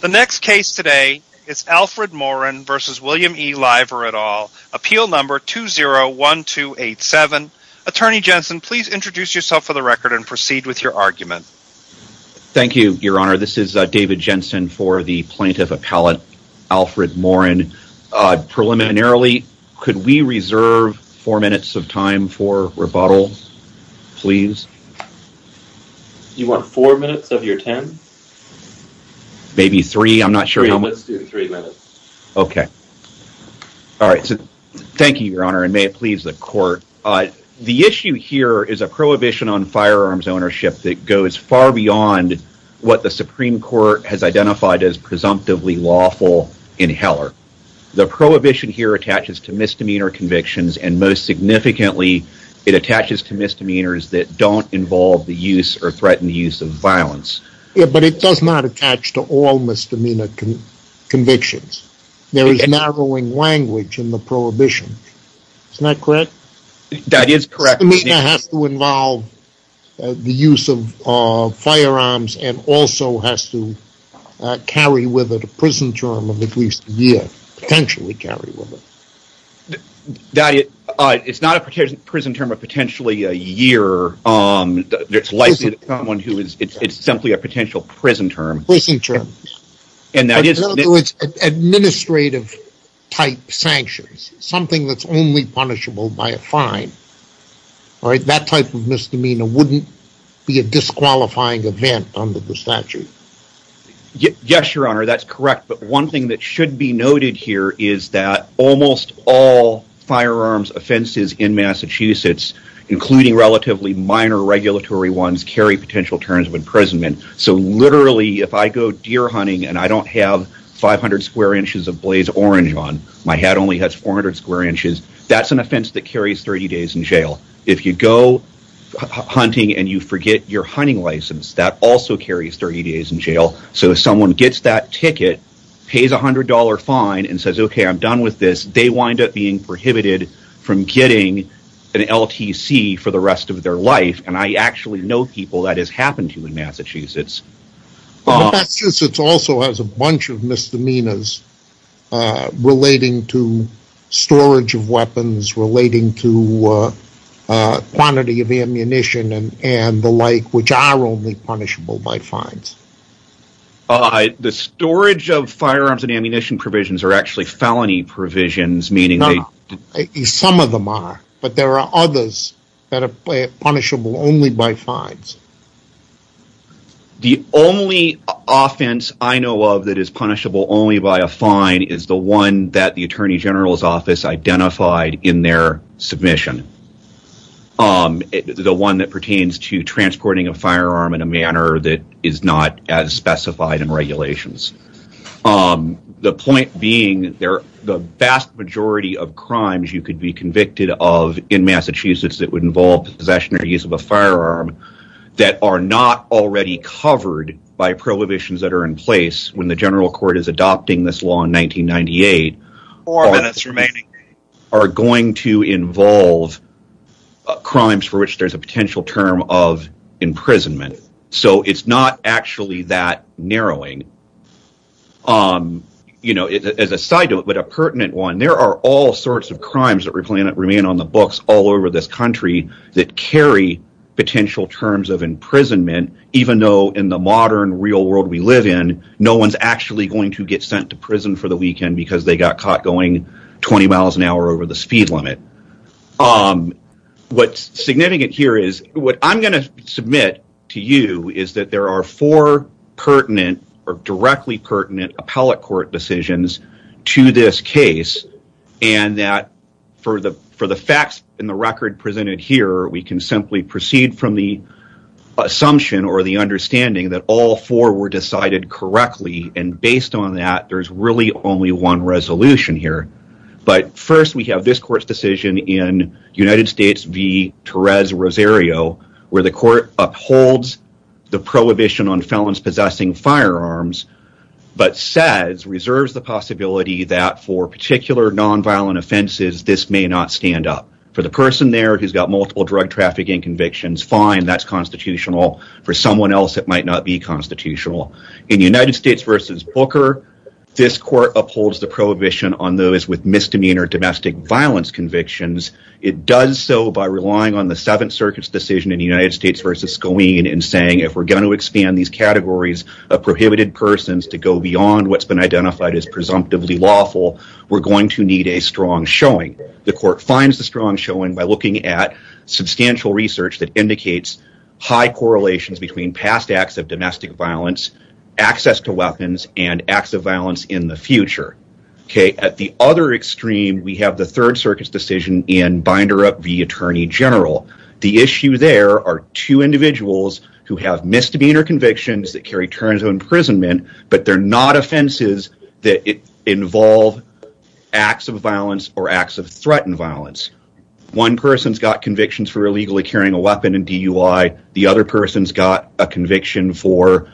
The next case today is Alfred Morin v. William E. Lyver et al., appeal number 201287. Attorney Jensen, please introduce yourself for the record and proceed with your argument. Thank you, Your Honor. This is David Jensen for the plaintiff appellate, Alfred Morin. Preliminarily, could we reserve four minutes of time for rebuttal, please? You want four minutes of your ten? Maybe three. Let's do three minutes. Okay. All right. Thank you, Your Honor, and may it please the court. The issue here is a prohibition on firearms ownership that goes far beyond what the Supreme Court has identified as presumptively lawful in Heller. The prohibition here attaches to misdemeanor convictions, and most significantly, it attaches to misdemeanors that don't involve the use or threaten the use of violence. Yeah, but it does not attach to all misdemeanor convictions. There is narrowing language in the prohibition, is that correct? That is correct. Misdemeanor has to involve the use of firearms and also has to carry with it a prison term of at least a year, potentially carry with it. It's not a prison term of potentially a year, it's simply a potential prison term. Prison term. In other words, administrative-type sanctions, something that's only punishable by a fine. That type of misdemeanor wouldn't be a disqualifying event under the statute. Yes, Your Honor, that's correct. But one thing that should be noted here is that almost all firearms offenses in Massachusetts, including relatively minor regulatory ones, carry potential terms of imprisonment. So literally, if I go deer hunting and I don't have 500 square inches of blaze orange on, my hat only has 400 square inches, that's an offense that carries 30 days in jail. If you go hunting and you forget your hunting license, that also carries 30 days in jail. So if someone gets that ticket, pays a $100 fine, and says, okay, I'm done with this, they wind up being prohibited from getting an LTC for the rest of their life, and I actually know people that has happened to in Massachusetts. Massachusetts also has a bunch of misdemeanors relating to storage of weapons, relating to quantity of ammunition, and the like, which are only punishable by fines. The storage of firearms and ammunition provisions are actually felony provisions, meaning that... No, some of them are, but there are others that are punishable only by fines. The only offense I know of that is punishable only by a fine is the one that the Attorney The one that pertains to transporting a firearm in a manner that is not as specified in regulations. The point being, the vast majority of crimes you could be convicted of in Massachusetts that would involve possession or use of a firearm that are not already covered by prohibitions that are in place when the general court is adopting this law in 1998, are going to involve crimes for which there's a potential term of imprisonment. So it's not actually that narrowing. As a side note, but a pertinent one, there are all sorts of crimes that remain on the books all over this country that carry potential terms of imprisonment, even though in the modern real world we live in, no one's actually going to get sent to prison for the weekend because they got caught going 20 miles an hour over the speed limit. What's significant here is, what I'm going to submit to you is that there are four pertinent or directly pertinent appellate court decisions to this case, and that for the facts in the record presented here, we can simply proceed from the assumption or the understanding that all four were decided correctly, and based on that, there's really only one resolution here. But first, we have this court's decision in United States v. Torres-Rosario, where the court upholds the prohibition on felons possessing firearms, but says, reserves the possibility that for particular nonviolent offenses, this may not stand up. For the person there who's got multiple drug trafficking convictions, fine, that's constitutional. For someone else, it might not be constitutional. In United States v. Booker, this court upholds the prohibition on those with misdemeanor domestic violence convictions. It does so by relying on the Seventh Circuit's decision in United States v. Sconeen in saying if we're going to expand these categories of prohibited persons to go beyond what's been identified as presumptively lawful, we're going to need a strong showing. The court finds the strong showing by looking at substantial research that indicates high access to weapons and acts of violence in the future. At the other extreme, we have the Third Circuit's decision in Binderup v. Attorney General. The issue there are two individuals who have misdemeanor convictions that carry terms of imprisonment, but they're not offenses that involve acts of violence or acts of threatened violence. One person's got convictions for illegally carrying a weapon in DUI, the other person's got a conviction for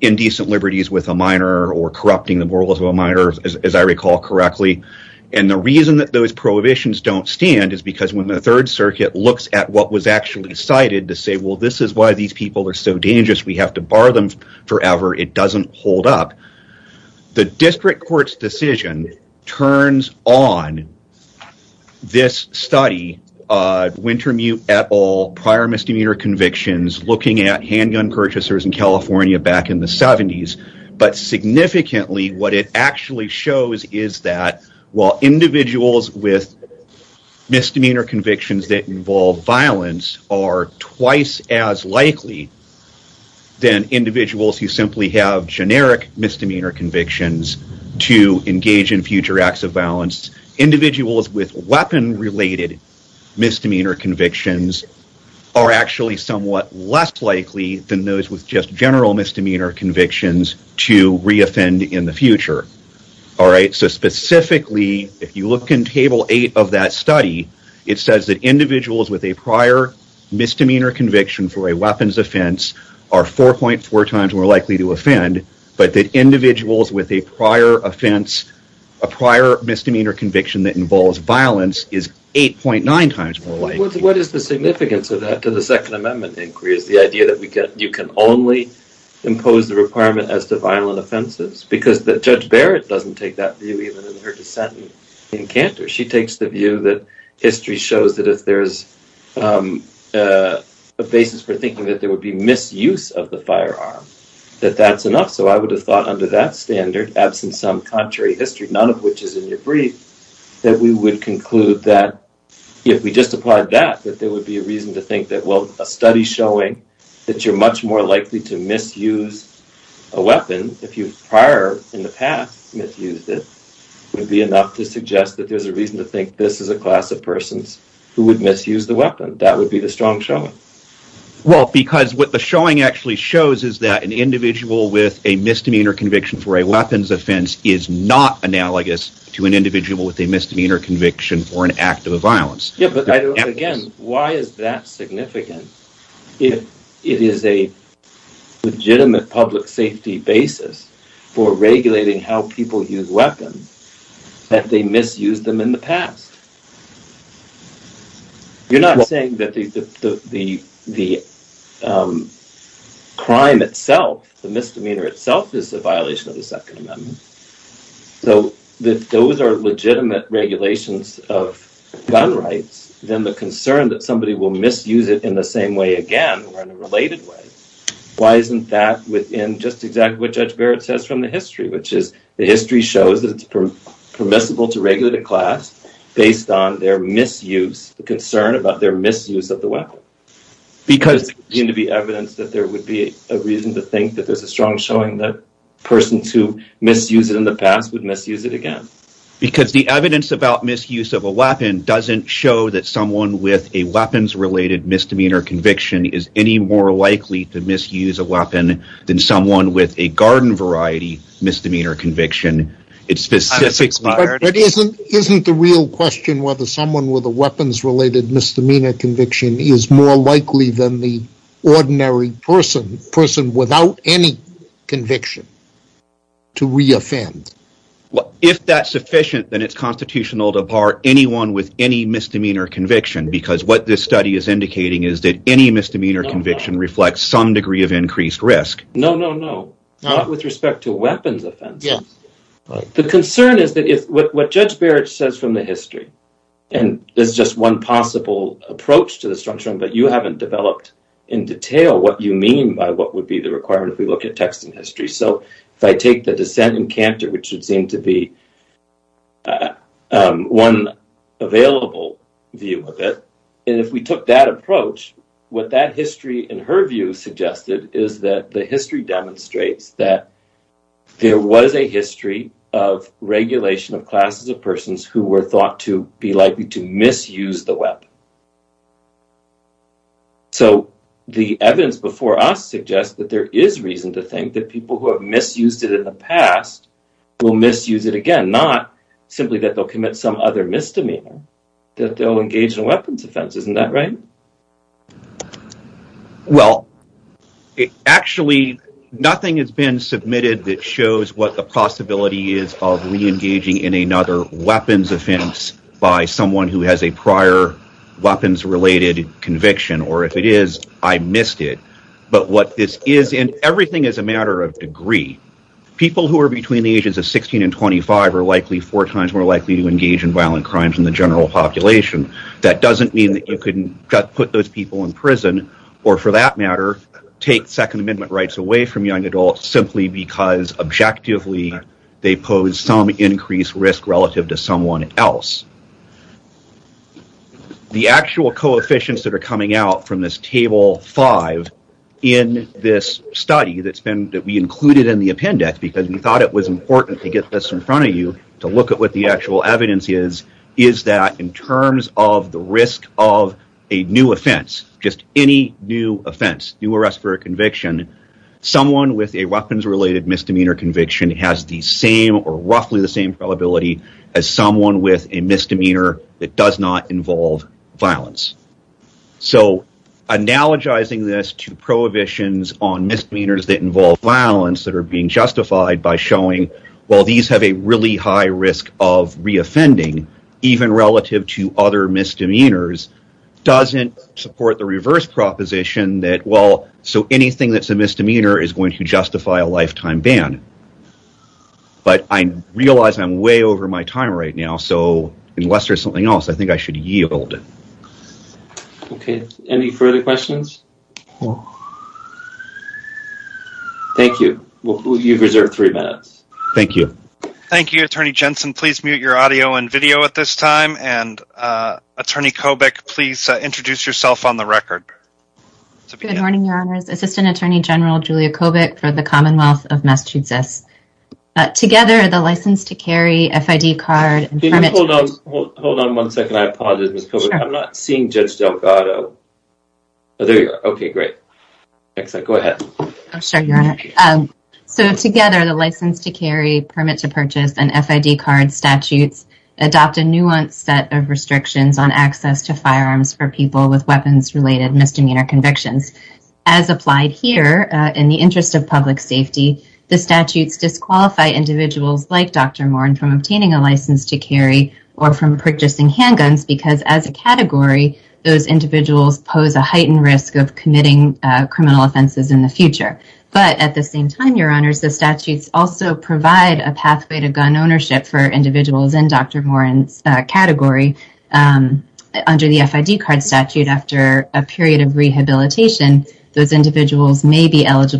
indecent liberties with a minor or corrupting the morals of a minor, as I recall correctly, and the reason that those prohibitions don't stand is because when the Third Circuit looks at what was actually cited to say, well, this is why these people are so dangerous, we have to bar them forever, it doesn't hold up. The district court's decision turns on this study, Wintermute et al., prior misdemeanor convictions, looking at handgun purchasers in California back in the 70s, but significantly what it actually shows is that while individuals with misdemeanor convictions that involve misdemeanor convictions to engage in future acts of violence, individuals with weapon-related misdemeanor convictions are actually somewhat less likely than those with just general misdemeanor convictions to re-offend in the future. So specifically, if you look in Table 8 of that study, it says that individuals with a prior misdemeanor conviction for a weapons offense are 4.4 times more likely to offend, but that individuals with a prior offense, a prior misdemeanor conviction that involves violence is 8.9 times more likely to offend. What is the significance of that to the Second Amendment inquiry is the idea that you can only impose the requirement as to violent offenses, because Judge Barrett doesn't take that view even in her dissent in Cantor. She takes the view that history shows that if there's a basis for thinking that there is a basis for thinking that that's enough. So I would have thought under that standard, absent some contrary history, none of which is in your brief, that we would conclude that if we just applied that, that there would be a reason to think that, well, a study showing that you're much more likely to misuse a weapon if you prior in the past misused it would be enough to suggest that there's a reason to think this is a class of persons who would misuse the weapon. That would be the strong showing. Well, because what the showing actually shows is that an individual with a misdemeanor conviction for a weapons offense is not analogous to an individual with a misdemeanor conviction for an act of violence. Yeah, but again, why is that significant if it is a legitimate public safety basis for regulating how people use weapons that they misused them in the past? You're not saying that the crime itself, the misdemeanor itself, is a violation of the Second Amendment. So if those are legitimate regulations of gun rights, then the concern that somebody will misuse it in the same way again, or in a related way, why isn't that within just exactly what Judge Barrett says from the history, which is the history shows that it's permissible to regulate a class based on their misuse, the concern about their misuse of the weapon. Because there would seem to be evidence that there would be a reason to think that there's a strong showing that persons who misused it in the past would misuse it again. Because the evidence about misuse of a weapon doesn't show that someone with a weapons-related misdemeanor conviction is any more likely to misuse a weapon than someone with a garden variety misdemeanor conviction. But isn't the real question whether someone with a weapons-related misdemeanor conviction is more likely than the ordinary person, a person without any conviction, to re-offend? If that's sufficient, then it's constitutional to bar anyone with any misdemeanor conviction, because what this study is indicating is that any misdemeanor conviction reflects some degree of increased risk. No, not with respect to weapons offenses. The concern is that what Judge Barrett says from the history, and there's just one possible approach to the strong showing, but you haven't developed in detail what you mean by what would be the requirement if we look at text and history. So if I take the dissent in Cantor, which would seem to be one available view of it, and if we took that approach, what that history in her view suggested is that the history demonstrates that there was a history of regulation of classes of persons who were thought to be likely to misuse the weapon. So the evidence before us suggests that there is reason to think that people who have misused it in the past will misuse it again, not simply that they'll commit some other misdemeanor, that they'll engage in a weapons offense, isn't that right? Well, actually, nothing has been submitted that shows what the possibility is of reengaging in another weapons offense by someone who has a prior weapons-related conviction, or if it is, I missed it, but what this is, and everything is a matter of degree, people who are between the ages of 16 and 25 are likely four times more likely to engage in violent crimes than the general population. That doesn't mean that you couldn't just put those people in prison, or for that matter, take Second Amendment rights away from young adults simply because objectively they pose some increased risk relative to someone else. The actual coefficients that are coming out from this Table 5 in this study that we included in the appendix, because we thought it was important to get this in front of you to look at what the actual evidence is, is that in terms of the risk of a new offense, just any new offense, new arrest for a conviction, someone with a weapons-related misdemeanor conviction has the same or roughly the same probability as someone with a misdemeanor that does not involve violence. So analogizing this to prohibitions on misdemeanors that involve violence that are being justified by showing, well, these have a really high risk of reoffending, even relative to other misdemeanors, doesn't support the reverse proposition that, well, so anything that's a misdemeanor is going to justify a lifetime ban. But I realize I'm way over my time right now, so unless there's something else, I think I should yield. Okay, any further questions? Thank you. Well, you've reserved three minutes. Thank you. Thank you, Attorney Jensen. Please mute your audio and video at this time. And Attorney Kobach, please introduce yourself on the record. Good morning, Your Honors. Assistant Attorney General Julia Kobach for the Commonwealth of Massachusetts. Together, the license to carry, FID card, and permit to- Hold on one second. I apologize, Ms. Kobach. I'm not seeing Judge Delgado. Oh, there you are. Okay, great. Go ahead. Sure, Your Honor. So together, the license to carry, permit to purchase, and FID card statutes adopt a nuanced set of restrictions on access to firearms for people with weapons-related misdemeanor convictions. As applied here, in the interest of public safety, the statutes disqualify individuals like Dr. Morin from obtaining a license to carry or from purchasing handguns because as a category, those individuals pose a heightened risk of committing criminal offenses in the future. But at the same time, Your Honors, the statutes also provide a pathway to gun ownership for individuals in Dr. Morin's category. Under the FID card statute, after a period of rehabilitation, those individuals may be able to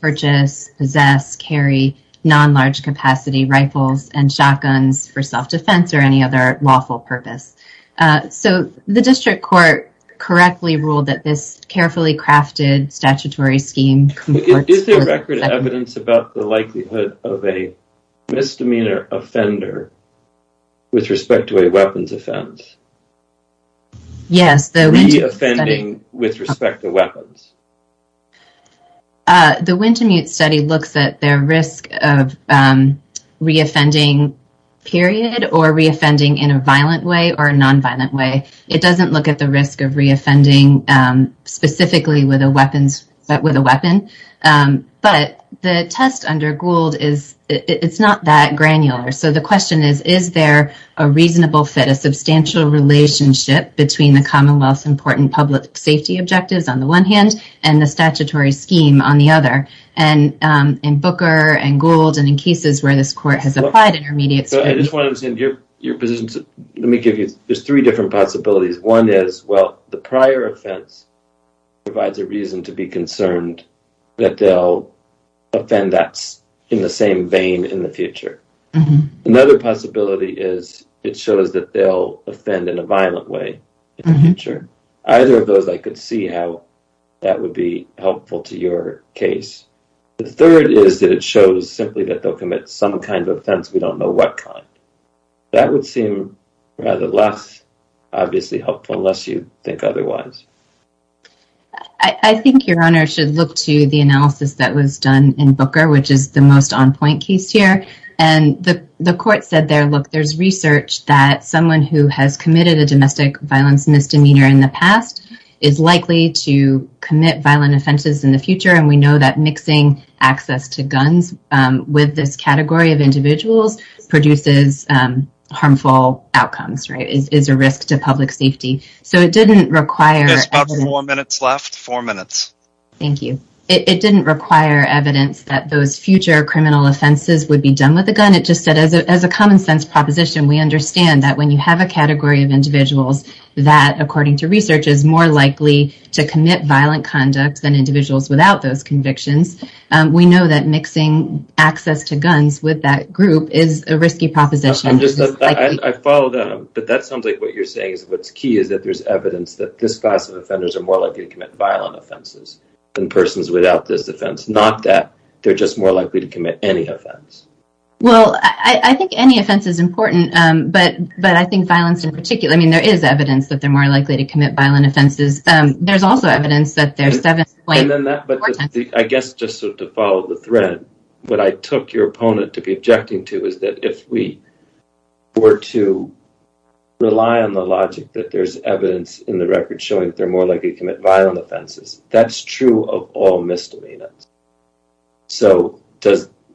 purchase, possess, carry non-large capacity rifles and shotguns for self-defense or any other lawful purpose. So the district court correctly ruled that this carefully crafted statutory scheme- Is there record of evidence about the likelihood of a misdemeanor offender with respect to a weapons offense? Yes. Re-offending with respect to weapons. The Wintemute study looks at their risk of re-offending, period, or re-offending in a violent way or a non-violent way. It doesn't look at the risk of re-offending specifically with a weapon. But the test under Gould, it's not that granular. So the question is, is there a reasonable fit, a substantial relationship between the statutory scheme on the other? And in Booker and Gould and in cases where this court has applied intermediate- So I just want to understand your position. Let me give you, there's three different possibilities. One is, well, the prior offense provides a reason to be concerned that they'll offend in the same vein in the future. Another possibility is it shows that they'll offend in a violent way in the future. Either of those, I could see how that would be helpful to your case. The third is that it shows simply that they'll commit some kind of offense. We don't know what kind. That would seem rather less obviously helpful unless you think otherwise. I think your Honor should look to the analysis that was done in Booker, which is the most on-point case here. And the court said there, look, there's research that someone who has committed a domestic violence misdemeanor in the past is likely to commit violent offenses in the future. And we know that mixing access to guns with this category of individuals produces harmful outcomes, right, is a risk to public safety. So it didn't require- There's about four minutes left. Four minutes. Thank you. It didn't require evidence that those future criminal offenses would be done with a gun. It just said, as a common-sense proposition, we understand that when you have a category of individuals that, according to research, is more likely to commit violent conduct than individuals without those convictions, we know that mixing access to guns with that group is a risky proposition. I follow that, but that sounds like what you're saying is what's key is that there's evidence that this class of offenders are more likely to commit violent offenses than persons without this offense, not that they're just more likely to commit any offense. Well, I think any offense is important, but I think violence in particular, I mean, there is evidence that they're more likely to commit violent offenses. There's also evidence that there's- I guess just to follow the thread, what I took your opponent to be objecting to is that if we were to rely on the logic that there's evidence in the record showing that they're more likely to commit violent offenses, that's true of all misdemeanors. So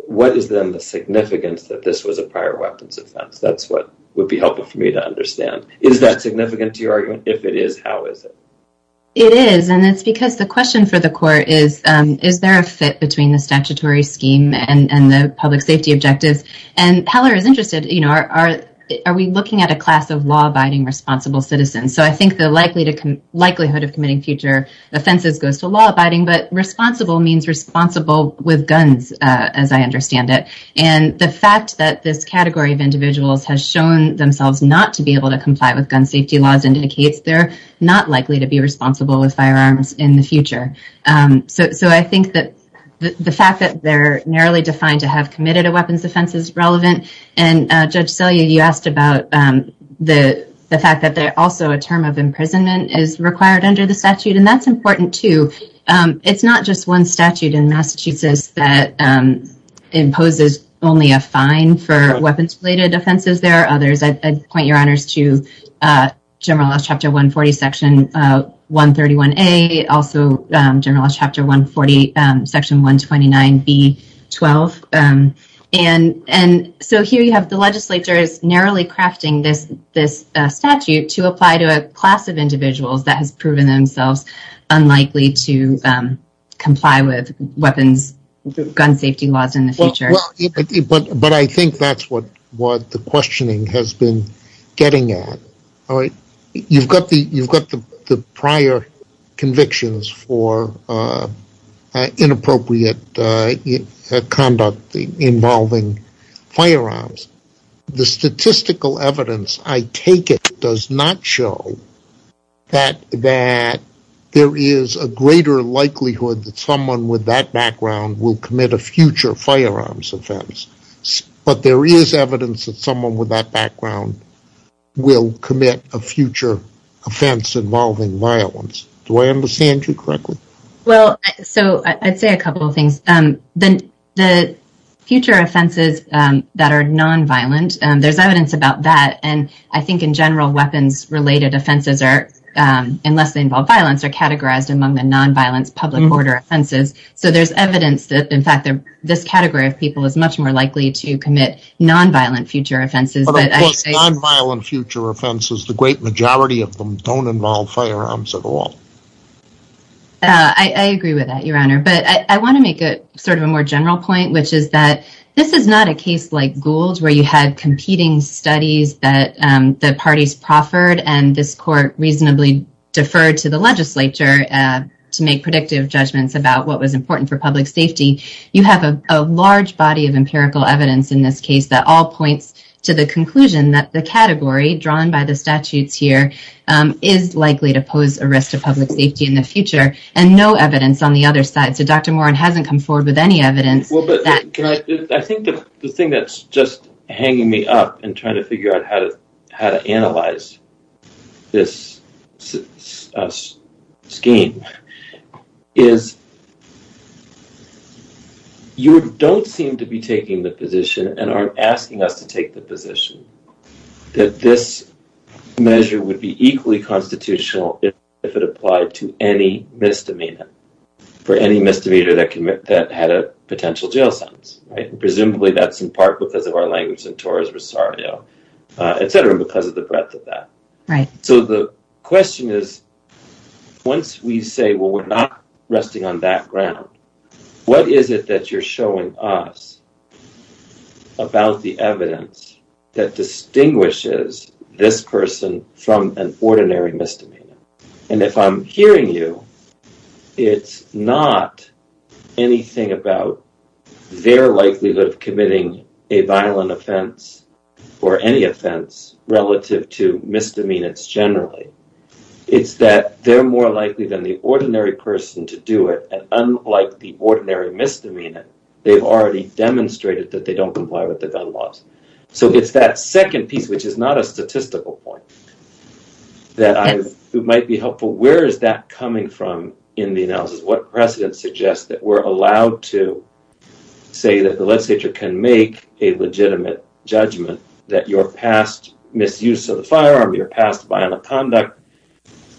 what is then the significance that this was a prior weapons offense? That's what would be helpful for me to understand. Is that significant to your argument? If it is, how is it? It is, and it's because the question for the court is, is there a fit between the statutory scheme and the public safety objectives? And Heller is interested. Are we looking at a class of law-abiding, responsible citizens? So I think the likelihood of committing future offenses goes to law-abiding, but responsible means responsible with guns, as I understand it. And the fact that this category of individuals has shown themselves not to be able to comply with gun safety laws indicates they're not likely to be responsible with firearms in the future. So I think that the fact that they're narrowly defined to have committed a weapons offense is relevant. And Judge Selye, you asked about the fact that also a term of imprisonment is required under the statute, and that's important too. It's not just one statute in Massachusetts that imposes only a fine for weapons-related offenses. There are others. I'd point your honors to General Laws Chapter 140, Section 131A, also General Laws Chapter 140, Section 129B-12. And so here you have the legislature is narrowly crafting this statute to apply to a class of individuals that has proven themselves unlikely to comply with weapons gun safety laws in the future. But I think that's what the questioning has been getting at. You've got the prior convictions for inappropriate conduct involving firearms. The statistical evidence, I take it, does not show that there is a greater likelihood that someone with that background will commit a future firearms offense. But there is evidence that someone with that background will commit a future offense involving violence. Do I understand you correctly? Well, so I'd say a couple of things. The future offenses that are nonviolent, there's evidence about that. And I think in general, weapons-related offenses are, unless they involve violence, are categorized among the nonviolence public order offenses. So there's evidence that, in fact, this category of people is much more likely to commit nonviolent future offenses. But of course, nonviolent future offenses, the great majority of them don't involve firearms at all. I agree with that, Your Honor. But I want to make sort of a more general point, which is that this is not a case like Gould's, where you had competing studies that the parties proffered and this court reasonably deferred to the legislature to make predictive judgments about what was important for public safety. You have a large body of empirical evidence in this case that all points to the conclusion that the category drawn by the statutes here is likely to pose a risk to public safety in the future. And no evidence on the other side. So Dr. Moran hasn't come forward with any evidence. Well, but I think the thing that's just hanging me up and trying to figure out how to analyze this scheme is you don't seem to be taking the position and aren't asking us to take the position that this measure would be equally constitutional if it applied to any misdemeanor for any misdemeanor that had a potential jail sentence. Presumably that's in part because of our language in Torres Rosario, etc., because of the breadth of that. So the question is, once we say, well, we're not resting on that ground, what is it that I'm hearing you, it's not anything about their likelihood of committing a violent offense or any offense relative to misdemeanors generally. It's that they're more likely than the ordinary person to do it. And unlike the ordinary misdemeanor, they've already demonstrated that they don't comply So it's that second piece, which is not a statistical point, that might be helpful. Where is that coming from in the analysis? What precedent suggests that we're allowed to say that the legislature can make a legitimate judgment that your past misuse of the firearm, your past violent conduct,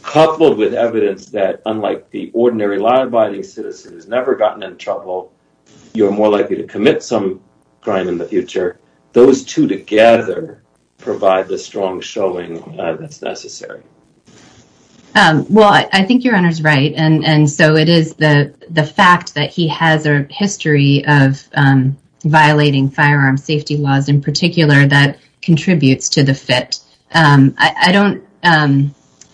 coupled with evidence that, unlike the ordinary liability citizen who's never gotten in trouble, you're more likely to commit some crime in the future, those two together provide the strong showing that's necessary. Well, I think your honor's right. And so it is the fact that he has a history of violating firearm safety laws in particular that contributes to the fit.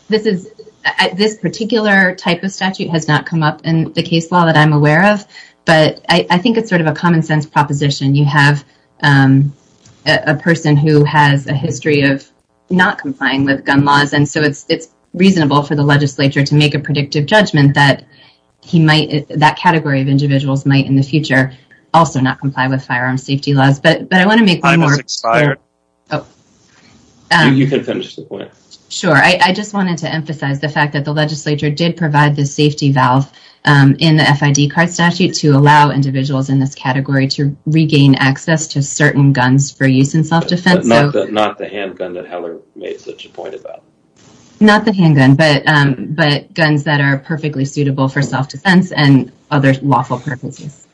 This particular type of statute has not come up in the case law that I'm aware of, but I think it's sort of a common sense proposition. You have a person who has a history of not complying with gun laws. And so it's reasonable for the legislature to make a predictive judgment that that category of individuals might in the future also not comply with firearm safety laws. But I want to make one more... Time has expired. You can finish the point. Sure. I just wanted to emphasize the fact that the legislature did provide the safety valve in the FID card statute to allow individuals in this category to regain access to certain guns for use in self-defense. Not the handgun that Heller made such a point about. Not the handgun, but guns that are perfectly suitable for self-defense and other lawful purposes.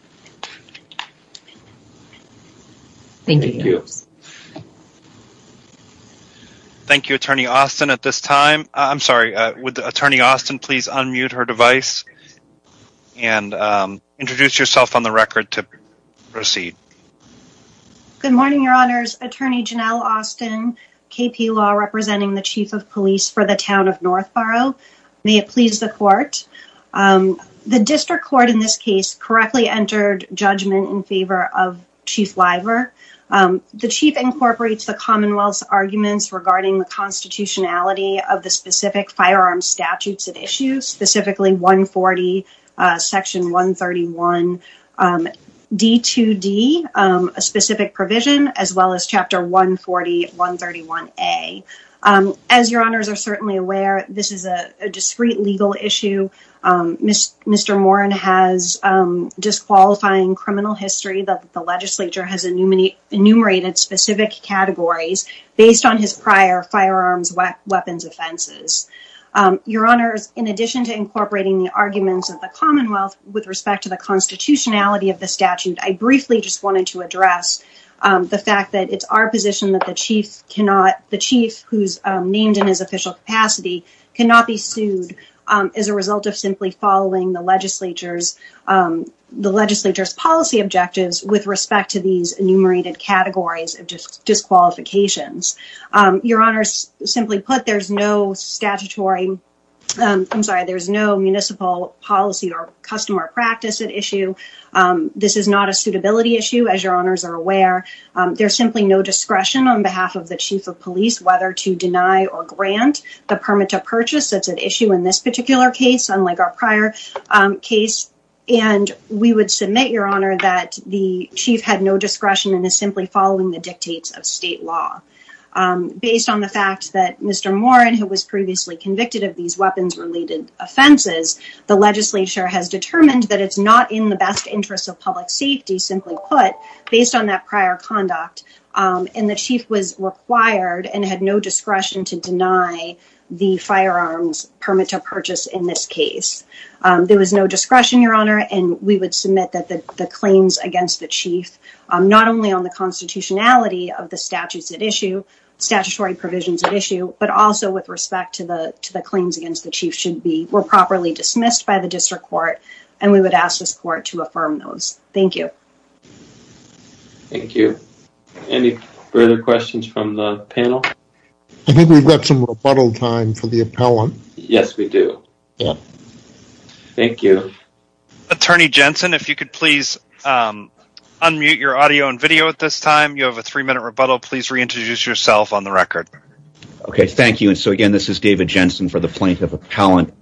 Thank you. Thank you. Thank you, Attorney Austin. At this time... I'm sorry, would Attorney Austin please unmute her device and introduce yourself on the record to proceed. Good morning, Your Honors. Attorney Janelle Austin, KP Law, representing the Chief of Police for the Town of North Borough. May it please the Court. The District Court in this case correctly entered judgment in favor of Chief Liver. The Chief incorporates the Commonwealth's arguments regarding the constitutionality of the specific firearm statutes at issue, specifically 140, Section 131, D2D, a specific provision, as well as Chapter 140, 131A. As Your Honors are certainly aware, this is a discreet legal issue. Mr. Moran has disqualifying criminal history that the legislature has enumerated specific categories based on his prior firearms weapons offenses. Your Honors, in addition to incorporating the arguments of the Commonwealth with respect to the constitutionality of the statute, I briefly just wanted to address the fact that it's our position that the Chief cannot... The Chief cannot be held to simply following the legislature's policy objectives with respect to these enumerated categories of disqualifications. Your Honors, simply put, there's no statutory... I'm sorry, there's no municipal policy or customer practice at issue. This is not a suitability issue, as Your Honors are aware. There's simply no discretion on behalf of the Chief of Police whether to deny or grant the permit to purchase. That's an issue in this particular case, unlike our prior case. And we would submit, Your Honor, that the Chief had no discretion and is simply following the dictates of state law. Based on the fact that Mr. Moran, who was previously convicted of these weapons-related offenses, the legislature has determined that it's not in the best interests of public safety, simply put, based on that prior conduct. And the Chief was required and had no discretion to deny the firearms permit to purchase in this case. There was no discretion, Your Honor, and we would submit that the claims against the Chief, not only on the constitutionality of the statutes at issue, statutory provisions at issue, but also with respect to the claims against the Chief were properly dismissed by the district court, and we would ask this court to affirm those. Thank you. Thank you. Any further questions from the panel? I think we've got some rebuttal time for the appellant. Yes, we do. Thank you. Attorney Jensen, if you could please unmute your audio and video at this time. You have a three-minute rebuttal. Please reintroduce yourself on the record. Okay, thank you. So, again, this is David Jensen for the Plaintiff Appellant.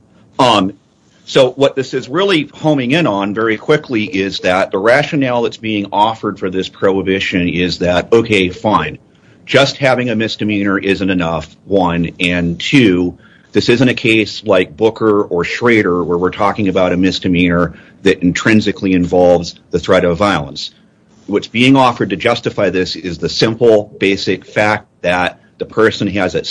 So, what this is really homing in on very quickly is that the rationale that's being offered for this prohibition is that, okay, fine, just having a misdemeanor isn't enough, one, and two, this isn't a case like Booker or Schrader where we're talking about a misdemeanor that intrinsically involves the threat of violence. What's being offered to justify this is the simple, basic fact that the person has at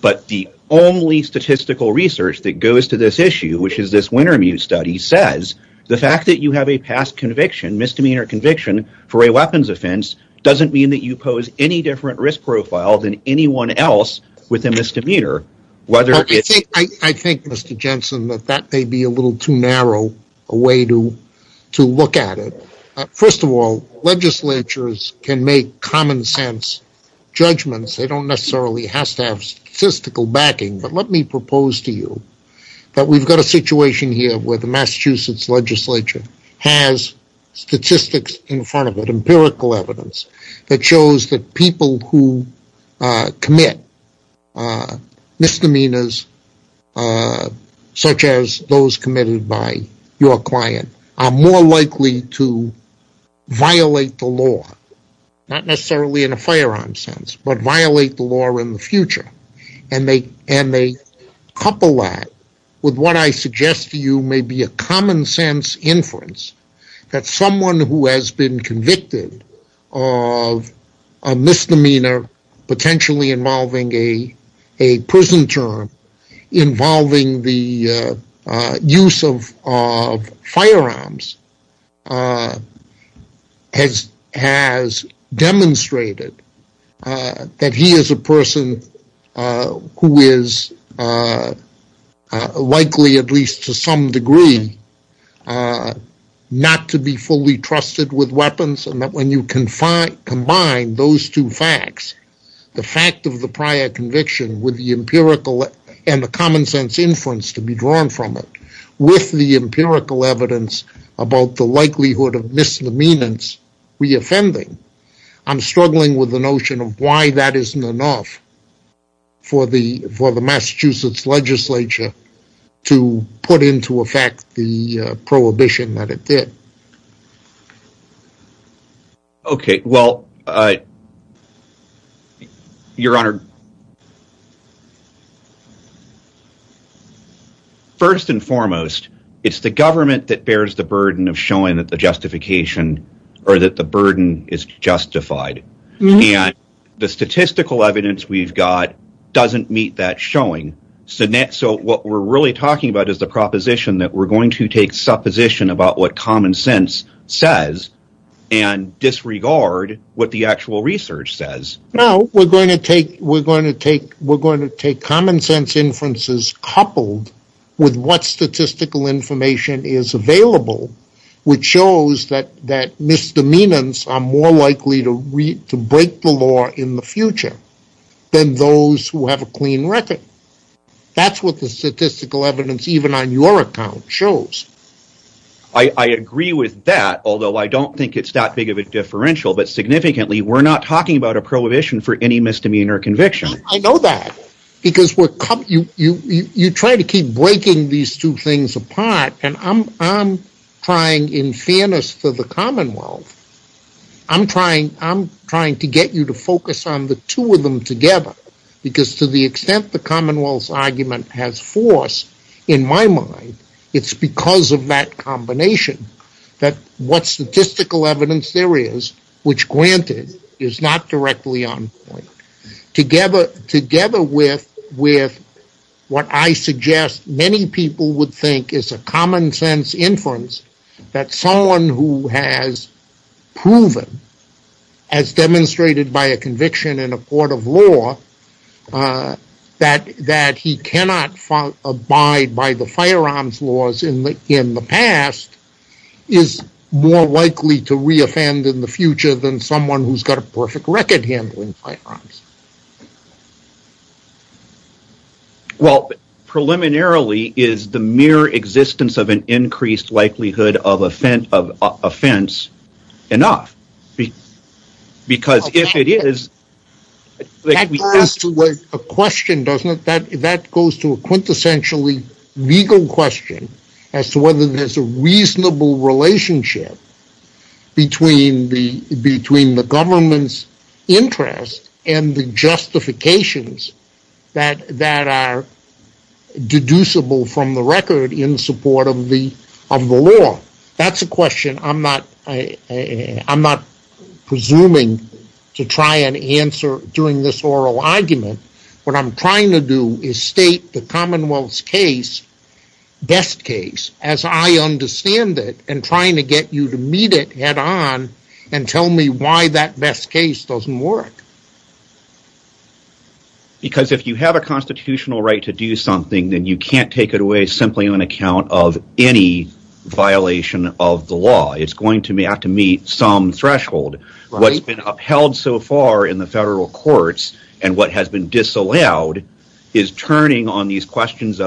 But the only statistical research that goes to this issue, which is this Wintermute study, says the fact that you have a past conviction, misdemeanor conviction, for a weapons offense doesn't mean that you pose any different risk profile than anyone else with a misdemeanor. I think, Mr. Jensen, that that may be a little too narrow a way to look at it. First of all, legislatures can make common sense judgments. They don't necessarily have to have statistical backing. But let me propose to you that we've got a situation here where the Massachusetts legislature has statistics in front of it, empirical evidence, that shows that people who commit misdemeanors such as those committed by your client are more likely to violate the law, not necessarily in a firearm sense, but violate the law in the future. And they couple that with what I suggest to you may be a common sense inference that someone who has been convicted of a misdemeanor potentially involving a prison term, involving the use of firearms, has demonstrated that he is a person who is likely, at least to some degree, not to be fully trusted with weapons, and that when you combine those two facts, the fact of the prior conviction and the common sense inference to be drawn from it, with the empirical evidence about the likelihood of misdemeanors reoffending, I'm struggling with the notion of why that isn't enough for the Massachusetts legislature to put into effect the prohibition that it did. Okay, well, Your Honor, first and foremost, it's the government that bears the burden of showing that the justification or that the burden is justified. And the statistical evidence we've got doesn't meet that showing. So what we're really talking about is the proposition that we're going to take supposition about what common sense says and disregard what the actual research says. No, we're going to take common sense inferences coupled with what statistical information is available, which shows that misdemeanors are more likely to break the law in the future than those who have a clean record. That's what the statistical evidence, even on your account, shows. I agree with that, although I don't think it's that big of a differential, but significantly, we're not talking about a prohibition for any misdemeanor conviction. I know that, because you try to keep breaking these two things apart, and I'm trying, in fairness for the Commonwealth, I'm trying to get you to focus on the two of them together, because to the extent the Commonwealth's argument has force, in my mind, it's because of that combination that what statistical evidence there is, which granted, is not directly on point. Together with what I suggest many people would think is a common sense inference that someone who has proven, as demonstrated by a conviction in a court of law, that he cannot abide by the firearms laws in the past, is more likely to re-offend in the future than someone who's got a perfect record handling firearms. Well, preliminarily, is the mere existence of an increased likelihood of offense enough? Because if it is... That goes to a question, doesn't it? That goes to a quintessentially legal question, as to whether there's a reasonable relationship between the government's interest and the justifications that are deducible from the record in support of the law. That's a question I'm not presuming to try and answer during this oral argument. What I'm trying to do is state the Commonwealth's case, best case, as I understand it, and trying to get you to meet it head-on, and tell me why that best case doesn't work. Because if you have a constitutional right to do something, then you can't take it away simply on account of any violation of the law. It's going to have to meet some threshold. What's been upheld so far in the federal courts, and what has been disallowed, and second, if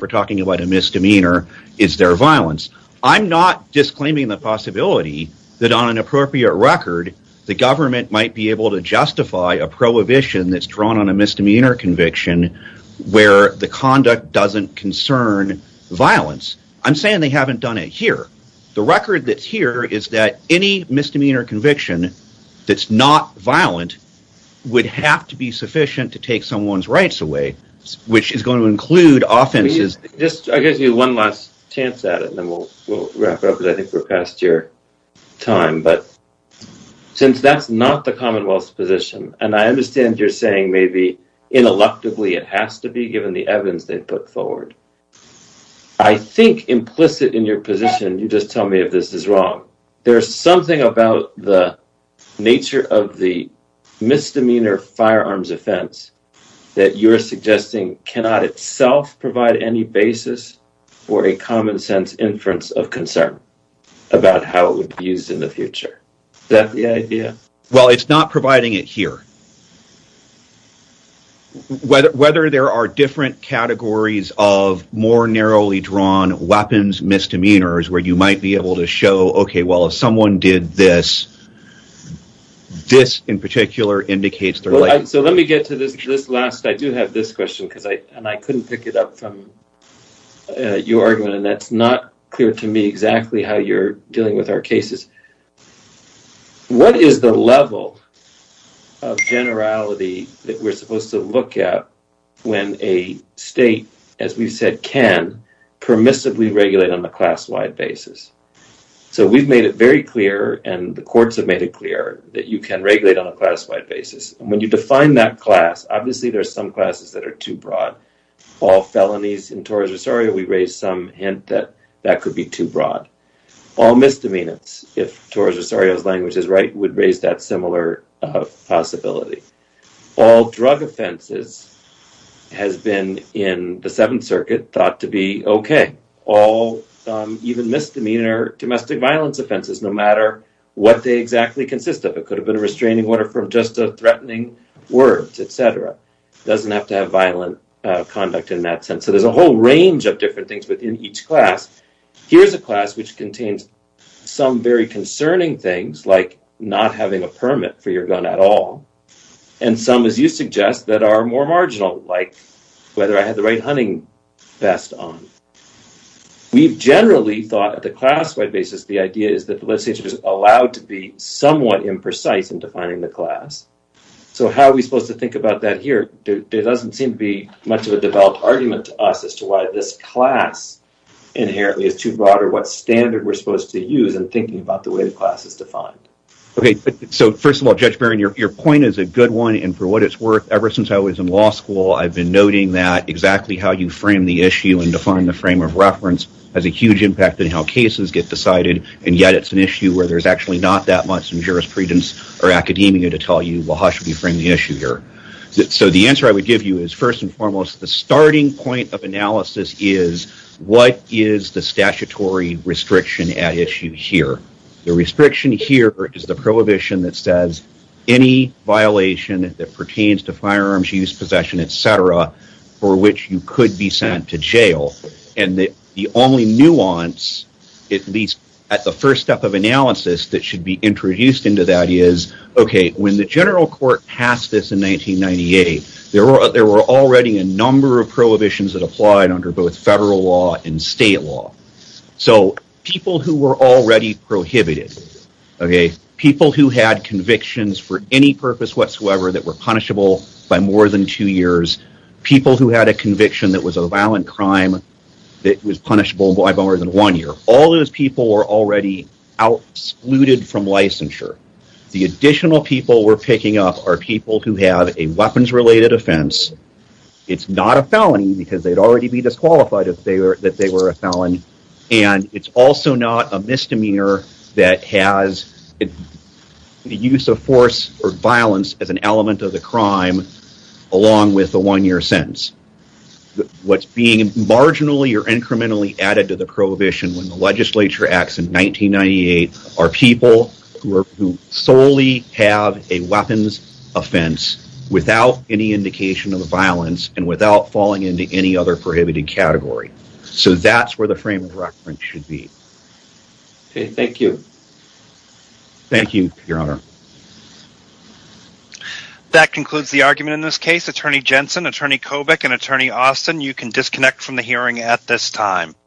we're talking about a misdemeanor, is their violence. I'm not disclaiming the possibility that on an appropriate record, the government might be able to justify a prohibition that's drawn on a misdemeanor conviction where the conduct doesn't concern violence. I'm saying they haven't done it here. The record that's here is that any misdemeanor conviction that's not violent would have to be sufficient to take someone's rights away, which is going to include offenses. I'll give you one last chance at it, and then we'll wrap it up, because I think we're past your time. Since that's not the Commonwealth's position, and I understand you're saying maybe, ineluctably, it has to be, given the evidence they've put forward. I think, implicit in your position, you just tell me if this is wrong. There's something about the nature of the misdemeanor firearms offense that you're suggesting cannot itself provide any basis for a common-sense inference of concern about how it would be used in the future. Is that the idea? Well, it's not providing it here. Whether there are different categories of more narrowly drawn weapons misdemeanors where you might be able to show, okay, well, if someone did this, this, in particular, indicates they're right. Let me get to this last. I do have this question, and I couldn't pick it up from your argument, and that's not clear to me exactly how you're dealing with our cases. What is the level of generality that we're supposed to look at when a state, as we've said, can permissively regulate on a class-wide basis? We've made it very clear, and the courts have made it clear, that you can regulate on a class-wide basis. When you define that class, obviously there are some classes that are too broad. All felonies in Torres Rosario, we raised some hint that that could be too broad. All misdemeanors, if Torres Rosario's language is right, would raise that similar possibility. All drug offenses has been, in the Seventh Circuit, thought to be okay. All even misdemeanor domestic violence offenses, no matter what they exactly consist of. It could have been a restraining order for just threatening words, et cetera. It doesn't have to have violent conduct in that sense. So there's a whole range of different things within each class. Here's a class which contains some very concerning things, like not having a permit for your gun at all, and some, as you suggest, that are more marginal, like whether I have the right hunting vest on. We've generally thought, at the class-wide basis, the idea is that the legislature is allowed to be somewhat imprecise in defining the class. So how are we supposed to think about that here? There doesn't seem to be much of a developed argument to us as to why this class inherently is too broad, or what standard we're supposed to use in thinking about the way the class is defined. Okay, so first of all, Judge Baron, your point is a good one, and for what it's worth, ever since I was in law school, I've been noting that exactly how you frame the issue and define the frame of reference has a huge impact in how cases get decided, and yet it's an issue where there's actually not that much in jurisprudence or academia to tell you, well, how should we frame the issue here? So the answer I would give you is, first and foremost, the starting point of analysis is, what is the statutory restriction at issue here? The restriction here is the prohibition that says, any violation that pertains to firearms use, possession, etc., for which you could be sent to jail. And the only nuance, at least at the first step of analysis, that should be introduced into that is, okay, when the general court passed this in 1998, there were already a number of prohibitions that applied under both federal law and state law. So people who were already prohibited, people who had convictions for any purpose whatsoever that were punishable by more than two years, people who had a conviction that was a violent crime that was punishable by more than one year, all those people were already excluded from licensure. The additional people we're picking up are people who have a weapons-related offense. It's not a felony because they'd already be disqualified if they were a felon. And it's also not a misdemeanor that has the use of force or violence as an element of the crime along with the one-year sentence. What's being marginally or incrementally added to the prohibition when the legislature acts in 1998 are people who solely have a weapons offense without any indication of violence and without falling into any other prohibited category. So that's where the frame of reference should be. Okay, thank you. Thank you, Your Honor. That concludes the argument in this case. Attorney Jensen, Attorney Kobach, and Attorney Austin, you can disconnect from the hearing at this time.